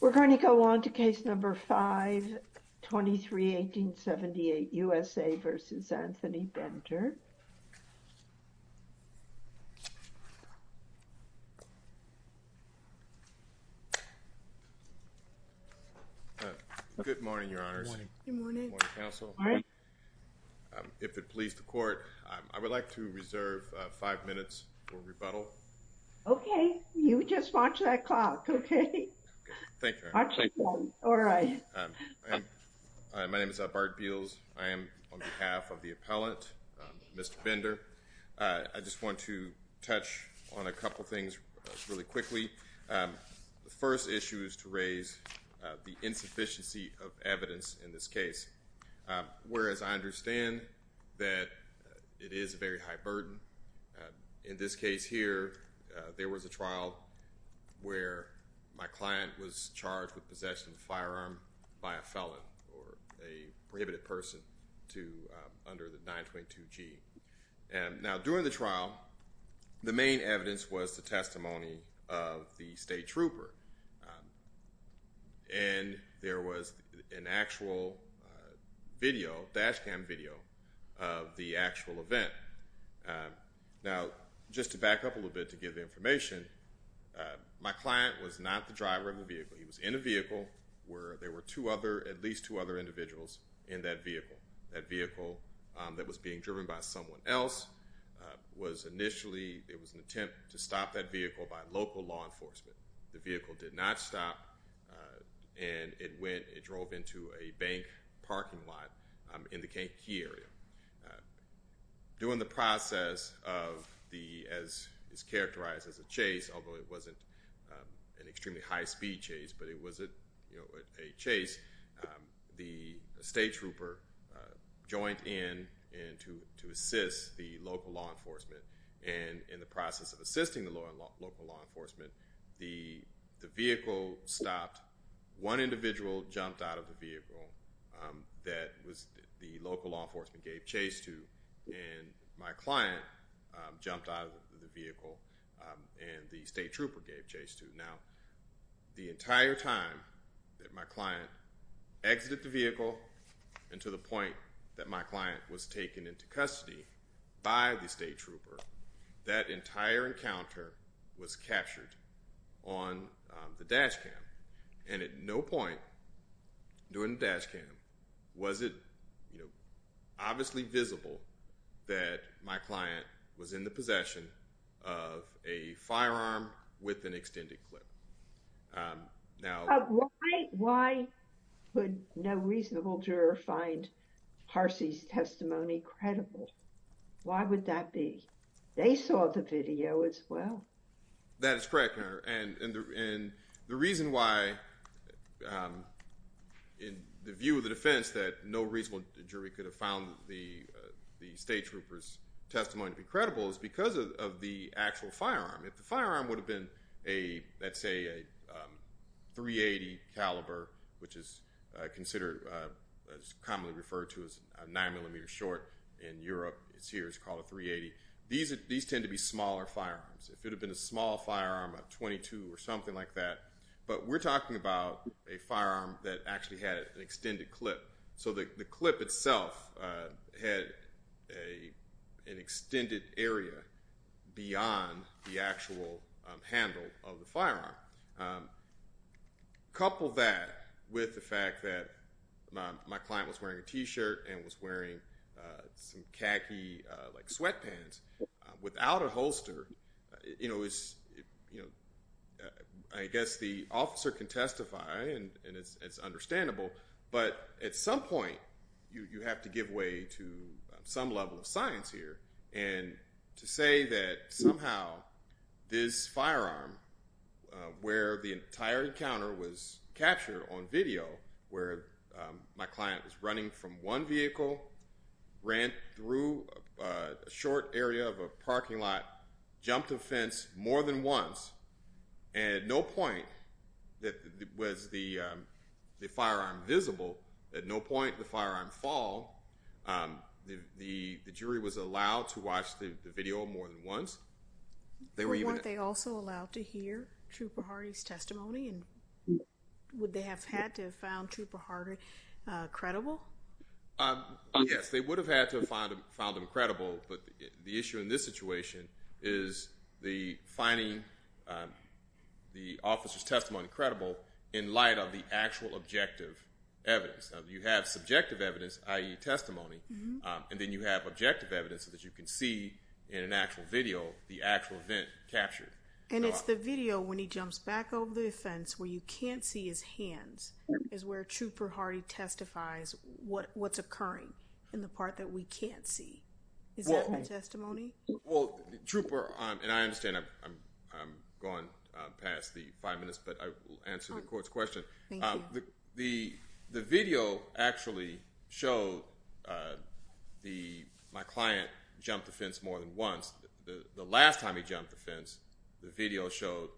We're going to go on to case number 5, 23-1878, U.S.A. v. Anthony Bender. Good morning, Your Honors. Good morning. Good morning, Counsel. Good morning. If it please the Court, I would like to reserve five minutes for rebuttal. Okay. You just watch that clock, okay? Thank you, Your Honor. All right. My name is Bart Beals. I am on behalf of the appellant, Mr. Bender. I just want to touch on a couple things really quickly. The first issue is to raise the insufficiency of evidence in this case, whereas I understand that it is a very high burden. In this case here, there was a trial where my client was charged with possession of a firearm by a felon or a prohibited person under the 922G. Now, during the trial, the main evidence was the testimony of the state trooper, and there was an actual video, dash cam video of the actual event. Now, just to back up a little bit to give the information, my client was not the driver of the vehicle. He was in a vehicle where there were at least two other individuals in that vehicle. That vehicle that was being driven by someone else was initially, it was an attempt to stop that vehicle by local law enforcement. The vehicle did not stop, and it went, it drove into a bank parking lot in the Kentucky area. During the process of the, as is characterized as a chase, although it wasn't an extremely high-speed chase, but it was a chase, the state trooper joined in to assist the local law enforcement, and in the process of assisting the local law enforcement, the vehicle stopped. One individual jumped out of the vehicle that the local law enforcement gave chase to, and my client jumped out of the vehicle, and the state trooper gave chase to. Now, the entire time that my client exited the vehicle and to the point that my client was taken into custody by the state trooper, that entire encounter was captured on the dash cam. And at no point during the dash cam was it, you know, obviously visible that my client was in the possession of a firearm with an extended clip. Now... Why could no reasonable juror find Harcey's testimony credible? Why would that be? They saw the video as well. That is correct, Your Honor, and the reason why, in the view of the defense, that no reasonable jury could have found the state trooper's testimony to be credible is because of the actual firearm. If the firearm would have been, let's say, a .380 caliber, which is commonly referred to as a 9mm short in Europe, it's here, it's called a .380. These tend to be smaller firearms. If it had been a small firearm, a .22 or something like that, but we're talking about a firearm that actually had an extended clip. So the clip itself had an extended area beyond the actual handle of the firearm. Couple that with the fact that my client was wearing a T-shirt and was wearing some khaki, like, sweatpants. Without a holster, you know, I guess the officer can testify, and it's understandable, but at some point you have to give way to some level of science here. And to say that somehow this firearm, where the entire encounter was captured on video, where my client was running from one vehicle, ran through a short area of a parking lot, jumped a fence more than once, and at no point was the firearm visible. At no point did the firearm fall. The jury was allowed to watch the video more than once. Weren't they also allowed to hear Trooper Hardy's testimony, and would they have had to have found Trooper Hardy credible? Yes, they would have had to have found him credible, but the issue in this situation is the finding the officer's testimony credible in light of the actual objective evidence. You have subjective evidence, i.e. testimony, and then you have objective evidence that you can see in an actual video the actual event captured. And it's the video when he jumps back over the fence where you can't see his hands is where Trooper Hardy testifies what's occurring in the part that we can't see. Is that my testimony? Well, Trooper, and I understand I'm going past the five minutes, but I will answer the court's question. Thank you. The video actually showed my client jumped the fence more than once. The last time he jumped the fence, the video showed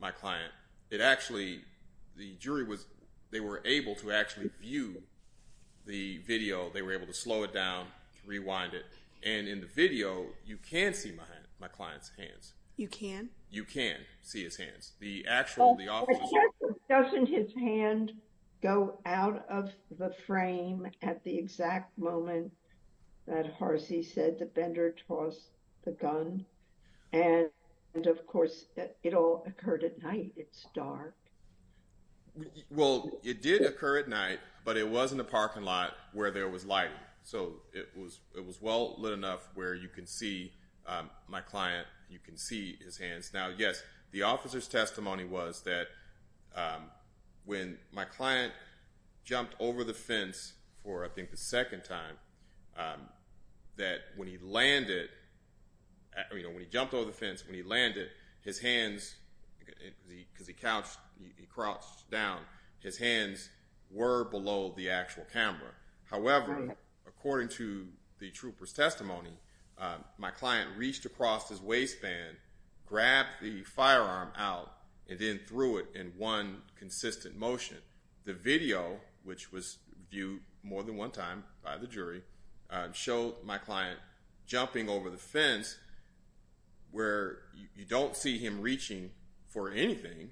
my client. It actually, the jury was, they were able to actually view the video. They were able to slow it down, rewind it. And in the video, you can see my client's hands. You can? You can see his hands. The actual, the officer's hands. Doesn't his hand go out of the frame at the exact moment that Harcy said that Bender tossed the gun? And of course, it all occurred at night. It's dark. Well, it did occur at night, but it was in the parking lot where there was lighting. So it was well lit enough where you can see my client. You can see his hands. Now, yes, the officer's testimony was that when my client jumped over the fence for, I think, the second time, that when he landed, when he jumped over the fence, when he landed, his hands, because he crouched down, his hands were below the actual camera. However, according to the trooper's testimony, my client reached across his waistband, grabbed the firearm out, and then threw it in one consistent motion. The video, which was viewed more than one time by the jury, showed my client jumping over the fence where you don't see him reaching for anything.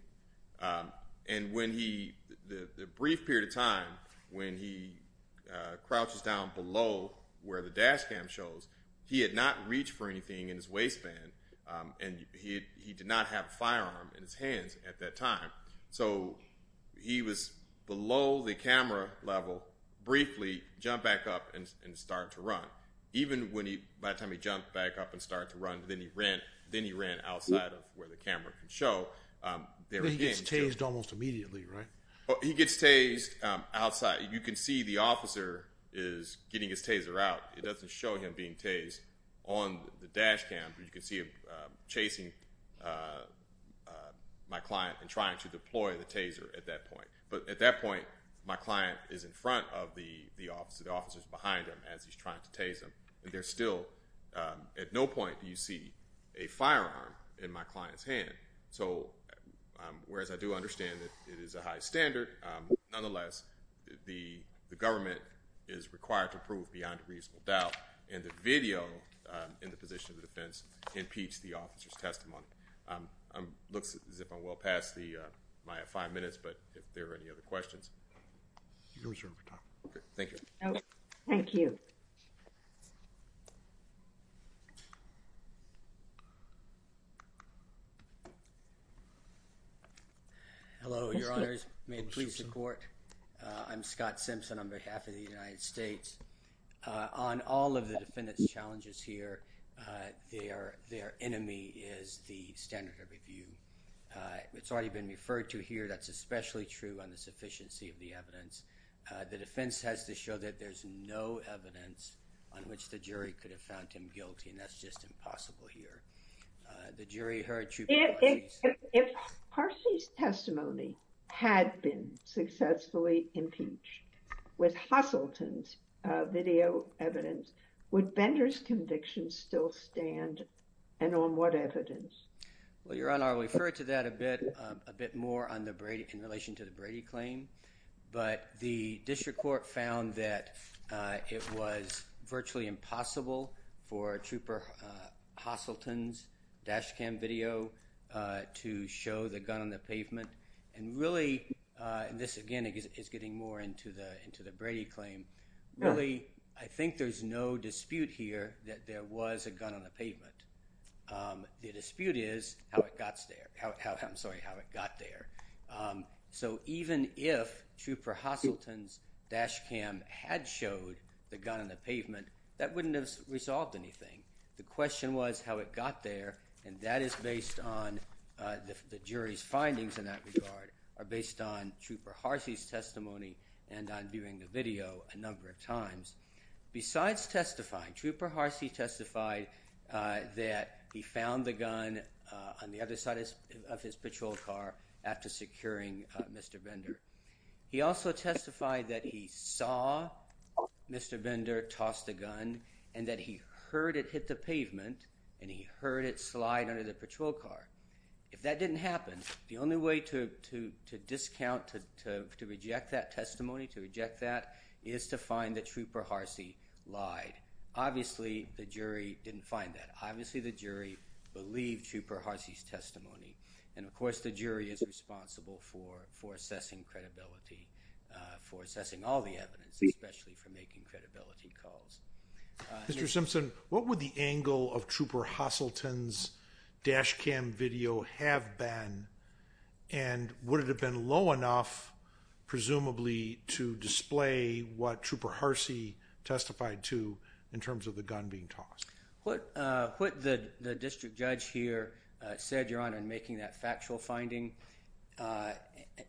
And when he, the brief period of time when he crouches down below where the dash cam shows, he had not reached for anything in his waistband, and he did not have a firearm in his hands at that time. So he was below the camera level briefly, jumped back up, and started to run. Even by the time he jumped back up and started to run, then he ran outside of where the camera can show. Then he gets tased almost immediately, right? He gets tased outside. You can see the officer is getting his taser out. It doesn't show him being tased. On the dash cam, you can see him chasing my client and trying to deploy the taser at that point. But at that point, my client is in front of the officer. The officer is behind him as he's trying to tase him. And there's still, at no point do you see a firearm in my client's hand. So whereas I do understand that it is a high standard, nonetheless, the government is required to prove beyond a reasonable doubt. And the video in the position of the defense impedes the officer's testimony. It looks as if I'm well past my five minutes, but if there are any other questions. Thank you. Thank you. Hello, Your Honors. May it please the Court. I'm Scott Simpson on behalf of the United States. On all of the defendant's challenges here, their enemy is the standard of review. It's already been referred to here. That's especially true on the sufficiency of the evidence. The defense has to show that there's no evidence on which the jury could have found him guilty, and that's just impossible here. The jury heard Troup. If Harshi's testimony had been successfully impeached with Hosselton's video evidence, would Bender's conviction still stand? And on what evidence? Well, Your Honor, I'll refer to that a bit more in relation to the Brady claim. But the district court found that it was virtually impossible for Trooper Hosselton's dash cam video to show the gun on the pavement. And really, this again is getting more into the Brady claim. Really, I think there's no dispute here that there was a gun on the pavement. The dispute is how it got there. So even if Trooper Hosselton's dash cam had showed the gun on the pavement, that wouldn't have resolved anything. The question was how it got there, and that is based on the jury's findings in that regard, are based on Trooper Harshi's testimony and on viewing the video a number of times. Besides testifying, Trooper Harshi testified that he found the gun on the other side of his patrol car after securing Mr. Bender. He also testified that he saw Mr. Bender toss the gun and that he heard it hit the pavement and he heard it slide under the patrol car. If that didn't happen, the only way to discount, to reject that testimony, to reject that, is to find that Trooper Harshi lied. Obviously, the jury didn't find that. Obviously, the jury believed Trooper Harshi's testimony. And of course, the jury is responsible for assessing credibility, for assessing all the evidence, especially for making credibility calls. Mr. Simpson, what would the angle of Trooper Hosselton's dash cam video have been, and would it have been low enough, presumably, to display what Trooper Harshi testified to in terms of the gun being tossed? What the district judge here said, Your Honor, in making that factual finding,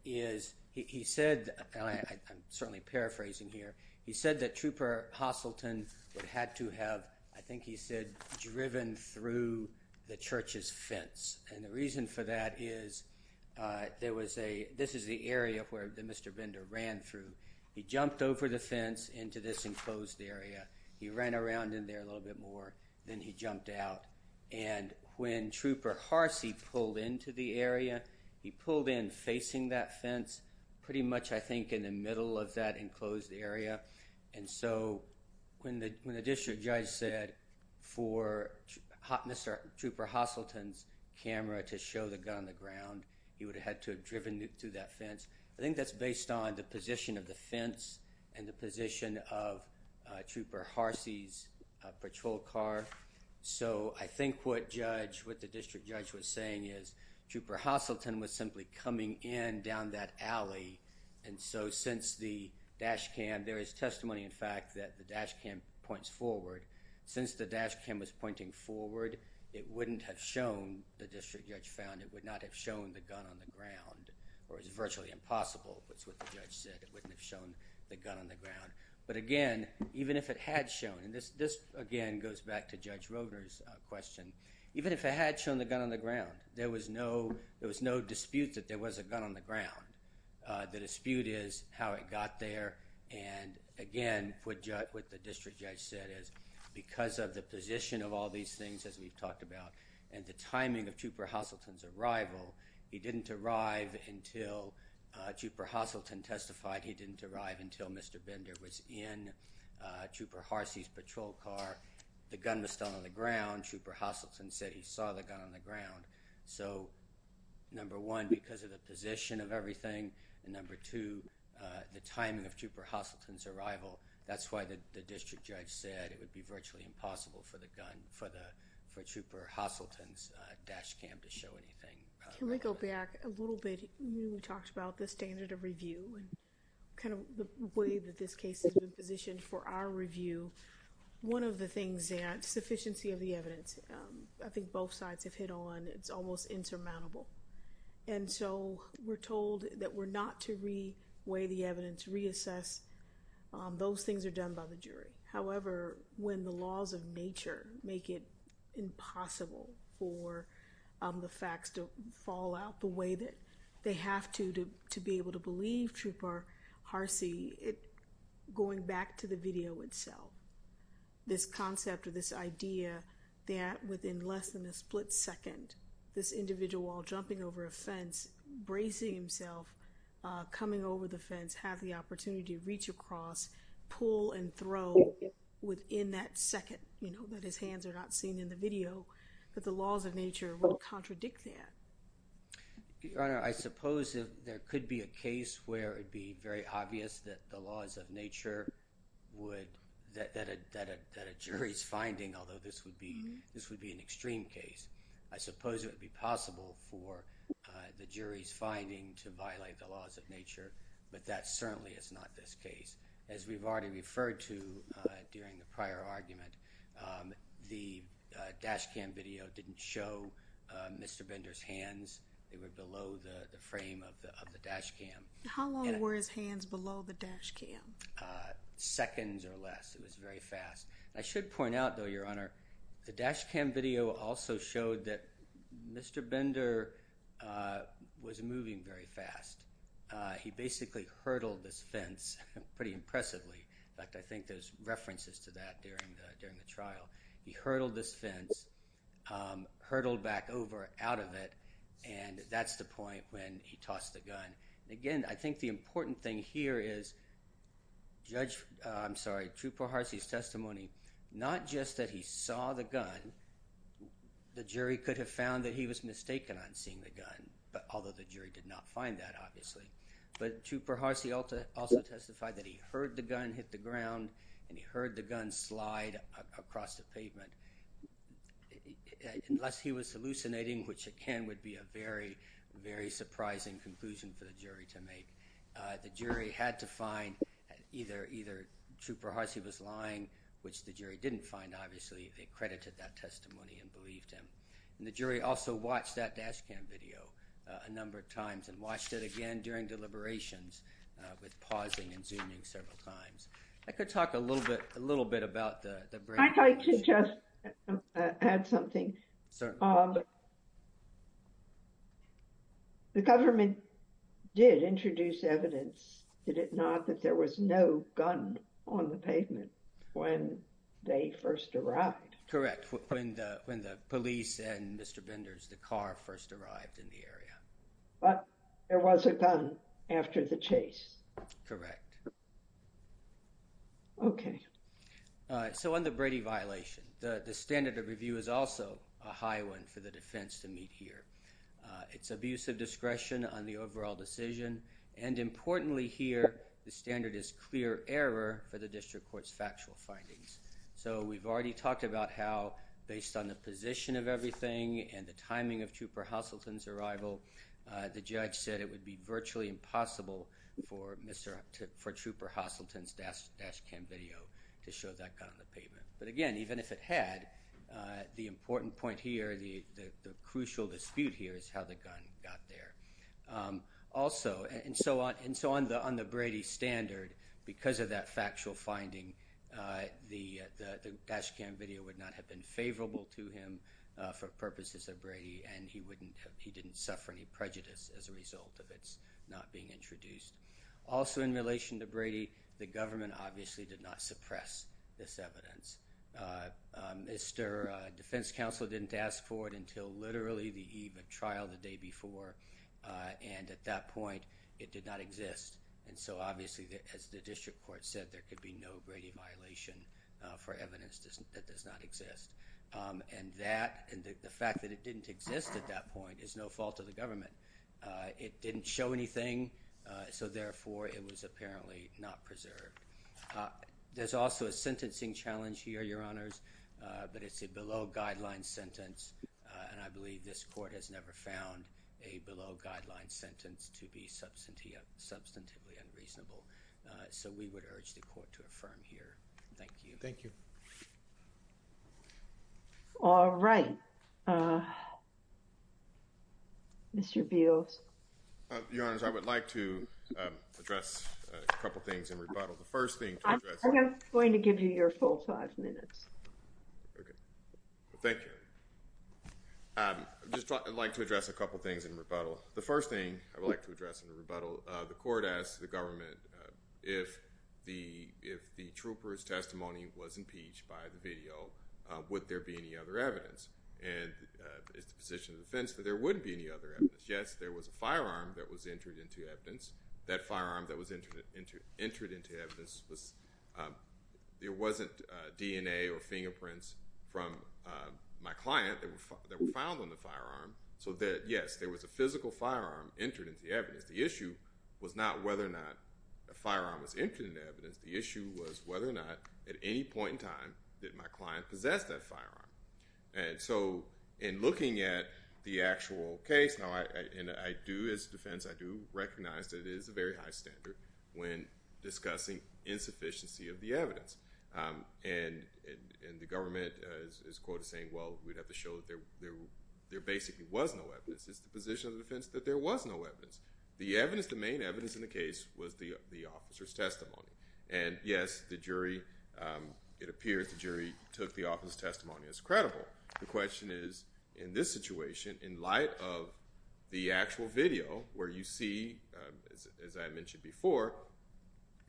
is he said, and I'm certainly paraphrasing here, he said that Trooper Hosselton had to have, I think he said, driven through the church's fence. And the reason for that is there was a, this is the area where Mr. Bender ran through. He jumped over the fence into this enclosed area. He ran around in there a little bit more. Then he jumped out. And when Trooper Harshi pulled into the area, he pulled in facing that fence, pretty much, I think, in the middle of that enclosed area. And so when the district judge said for Mr. Trooper Hosselton's camera to show the gun on the ground, he would have had to have driven through that fence. I think that's based on the position of the fence and the position of Trooper Harshi's patrol car. So I think what the district judge was saying is Trooper Hosselton was simply coming in down that alley. And so since the dash cam, there is testimony, in fact, that the dash cam points forward. Since the dash cam was pointing forward, it wouldn't have shown, the district judge found, it would not have shown the gun on the ground, or it's virtually impossible, is what the judge said. It wouldn't have shown the gun on the ground. But, again, even if it had shown, and this, again, goes back to Judge Roeder's question, even if it had shown the gun on the ground, there was no dispute that there was a gun on the ground. The dispute is how it got there. And, again, what the district judge said is because of the position of all these things, as we've talked about, and the timing of Trooper Hosselton's arrival, he didn't arrive until Trooper Hosselton testified. He didn't arrive until Mr. Bender was in Trooper Harsey's patrol car. The gun was still on the ground. Trooper Hosselton said he saw the gun on the ground. So, number one, because of the position of everything, and number two, the timing of Trooper Hosselton's arrival, that's why the district judge said it would be virtually impossible for the gun, for Trooper Hosselton's dash cam to show anything. Can we go back a little bit? We talked about the standard of review and kind of the way that this case has been positioned for our review. One of the things, Zant, sufficiency of the evidence, I think both sides have hit on. It's almost insurmountable. And so we're told that we're not to re-weigh the evidence, reassess. Those things are done by the jury. However, when the laws of nature make it impossible for the facts to fall out the way that they have to, to be able to believe Trooper Harsey, going back to the video itself, this concept or this idea that within less than a split second, this individual while jumping over a fence, bracing himself, coming over the fence, have the opportunity to reach across, pull and throw within that second, that his hands are not seen in the video, that the laws of nature will contradict that. Your Honor, I suppose there could be a case where it would be very obvious that the laws of nature would, that a jury's finding, although this would be an extreme case, I suppose it would be possible for the jury's finding to violate the laws of nature, but that certainly is not this case. As we've already referred to during the prior argument, the dash cam video didn't show Mr. Bender's hands. They were below the frame of the dash cam. How long were his hands below the dash cam? Seconds or less. It was very fast. I should point out, though, Your Honor, the dash cam video also showed that Mr. Bender was moving very fast. He basically hurtled this fence pretty impressively. In fact, I think there's references to that during the trial. He hurtled this fence, hurtled back over, out of it, and that's the point when he tossed the gun. Again, I think the important thing here is Judge, I'm sorry, Trupo Harcey's testimony, not just that he saw the gun, the jury could have found that he was mistaken on seeing the gun, although the jury did not find that, obviously, but Trupo Harcey also testified that he heard the gun hit the ground and he heard the gun slide across the pavement. Unless he was hallucinating, which again would be a very, very surprising conclusion for the jury to make, the jury had to find either Trupo Harcey was lying, which the jury didn't find, obviously. They credited that testimony and believed him. And the jury also watched that dash cam video a number of times and watched it again during deliberations with pausing and zooming several times. I could talk a little bit about the brain. I'd like to just add something. Certainly. The government did introduce evidence, did it not, that there was no gun on the pavement when they first arrived. Correct. When the police and Mr. Benders, the car first arrived in the area. But there was a gun after the chase. Correct. Okay. So on the Brady violation, the standard of review is also a high one for the defense to meet here. It's abuse of discretion on the overall decision. And importantly here, the standard is clear error for the district court's factual findings. So we've already talked about how, based on the position of everything and the timing of Trooper Hosselton's arrival, the judge said it would be virtually impossible for Trooper Hosselton's dash cam video to show that gun on the pavement. But again, even if it had, the important point here, the crucial dispute here is how the gun got there. Also, and so on the Brady standard, because of that factual finding, the dash cam video would not have been favorable to him for purposes of Brady, and he didn't suffer any prejudice as a result of its not being introduced. Also in relation to Brady, the government obviously did not suppress this evidence. Mr. Defense Counsel didn't ask for it until literally the eve of trial the day before, and at that point it did not exist. And so obviously, as the district court said, there could be no Brady violation for evidence that does not exist. And the fact that it didn't exist at that point is no fault of the government. It didn't show anything, so therefore it was apparently not preserved. There's also a sentencing challenge here, Your Honors, but it's a below-guideline sentence, and I believe this court has never found a below-guideline sentence to be substantively unreasonable. So we would urge the court to affirm here. Thank you. Thank you. All right. Mr. Beals. Your Honors, I would like to address a couple things in rebuttal. The first thing to address— I'm just going to give you your full five minutes. Okay. Thank you. I'd just like to address a couple things in rebuttal. The first thing I would like to address in rebuttal, the court asked the government, if the trooper's testimony was impeached by the video, would there be any other evidence? And it's the position of the defense that there wouldn't be any other evidence. Yes, there was a firearm that was entered into evidence. That firearm that was entered into evidence was— there wasn't DNA or fingerprints from my client that were found on the firearm. So yes, there was a physical firearm entered into evidence. The issue was not whether or not a firearm was entered into evidence. The issue was whether or not, at any point in time, did my client possess that firearm. And so, in looking at the actual case, and I do, as a defense, I do recognize that it is a very high standard when discussing insufficiency of the evidence. And the government is, quote, saying, well, we'd have to show that there basically was no evidence. It's the position of the defense that there was no evidence. The evidence, the main evidence in the case, was the officer's testimony. And yes, the jury—it appears the jury took the officer's testimony as credible. The question is, in this situation, in light of the actual video, where you see, as I mentioned before,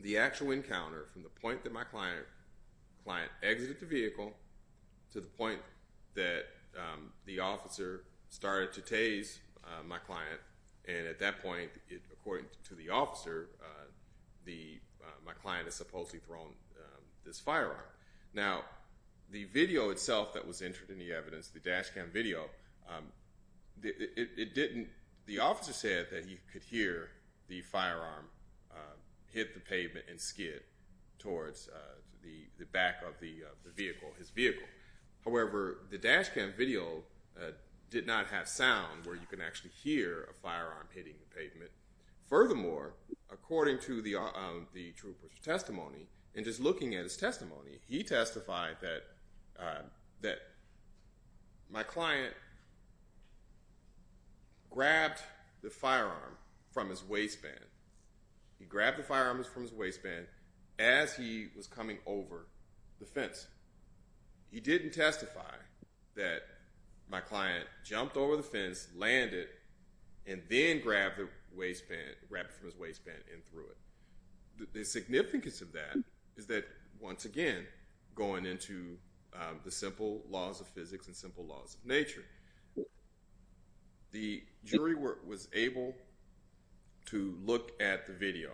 the actual encounter from the point that my client exited the vehicle to the point that the officer started to tase my client. And at that point, according to the officer, my client had supposedly thrown this firearm. Now, the video itself that was entered in the evidence, the dash cam video, it didn't—the officer said that he could hear the firearm hit the pavement and skid towards the back of the vehicle, his vehicle. However, the dash cam video did not have sound where you can actually hear a firearm hitting the pavement. Furthermore, according to the trooper's testimony, and just looking at his testimony, he testified that my client grabbed the firearm from his waistband. He grabbed the firearm from his waistband as he was coming over the fence. He didn't testify that my client jumped over the fence, landed, and then grabbed the waistband—grabbed it from his waistband and threw it. The significance of that is that, once again, going into the simple laws of physics and simple laws of nature, the jury was able to look at the video.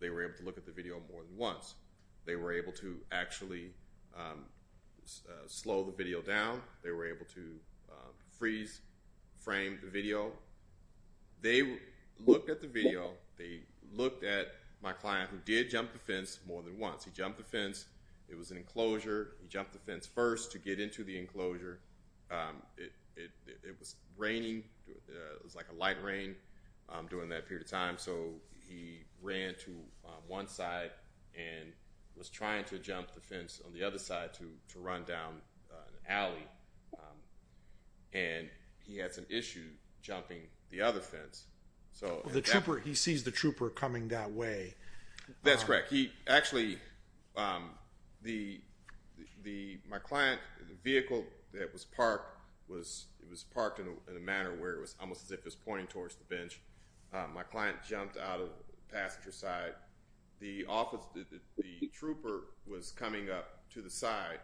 They were able to look at the video more than once. They were able to actually slow the video down. They were able to freeze frame the video. They looked at the video. They looked at my client, who did jump the fence more than once. He jumped the fence. It was an enclosure. He jumped the fence first to get into the enclosure. It was like a light rain during that period of time. He ran to one side and was trying to jump the fence on the other side to run down an alley, and he had some issue jumping the other fence. He sees the trooper coming that way. That's correct. Actually, my client, the vehicle that was parked, was parked in a manner where it was almost as if it was pointing towards the bench. My client jumped out of the passenger side. The trooper was coming up to the side,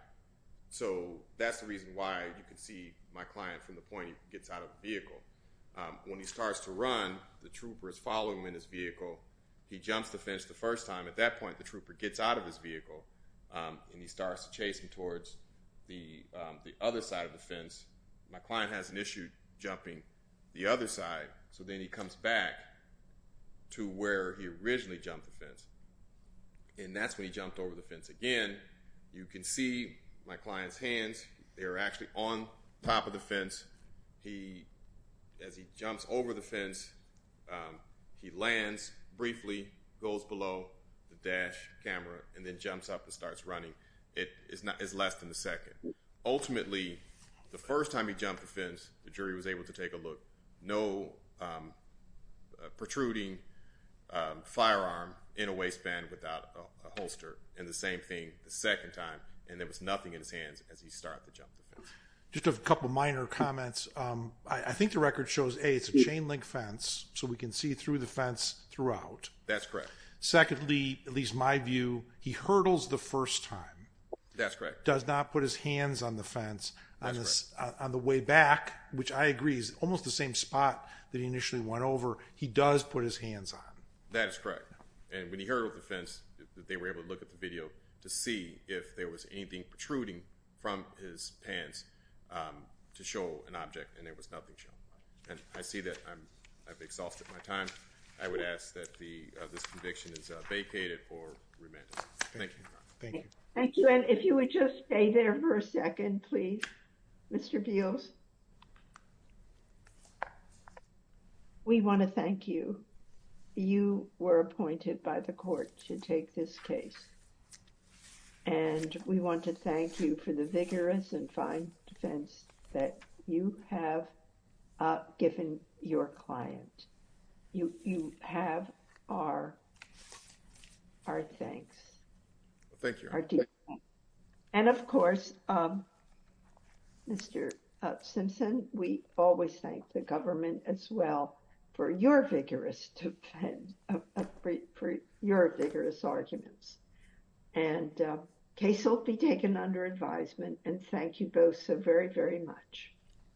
so that's the reason why you can see my client from the point he gets out of the vehicle. When he starts to run, the trooper is following him in his vehicle. He jumps the fence the first time. At that point, the trooper gets out of his vehicle, and he starts chasing towards the other side of the fence. My client has an issue jumping the other side, so then he comes back to where he originally jumped the fence, and that's when he jumped over the fence again. You can see my client's hands. They are actually on top of the fence. As he jumps over the fence, he lands briefly, goes below the dash camera, and then jumps up and starts running. It is less than a second. Ultimately, the first time he jumped the fence, the jury was able to take a look. No protruding firearm in a waistband without a holster, and the same thing the second time, and there was nothing in his hands as he started to jump the fence. Just a couple of minor comments. I think the record shows, A, it's a chain-link fence, so we can see through the fence throughout. That's correct. Secondly, at least my view, he hurdles the first time. That's correct. He does not put his hands on the fence on the way back, which I agree is almost the same spot that he initially went over. He does put his hands on. That is correct. When he hurdled the fence, they were able to look at the video to see if there was anything protruding from his pants to show an object, and there was nothing shown. I see that I've exhausted my time. I would ask that this conviction is vacated or remanded. Thank you. Thank you. And if you would just stay there for a second, please, Mr. Beals. We want to thank you. You were appointed by the court to take this case, and we want to thank you for the vigorous and fine defense that you have given your client. You have our thanks. Thank you. And, of course, Mr. Simpson, we always thank the government as well for your vigorous arguments. And the case will be taken under advisement, and thank you both so very, very much.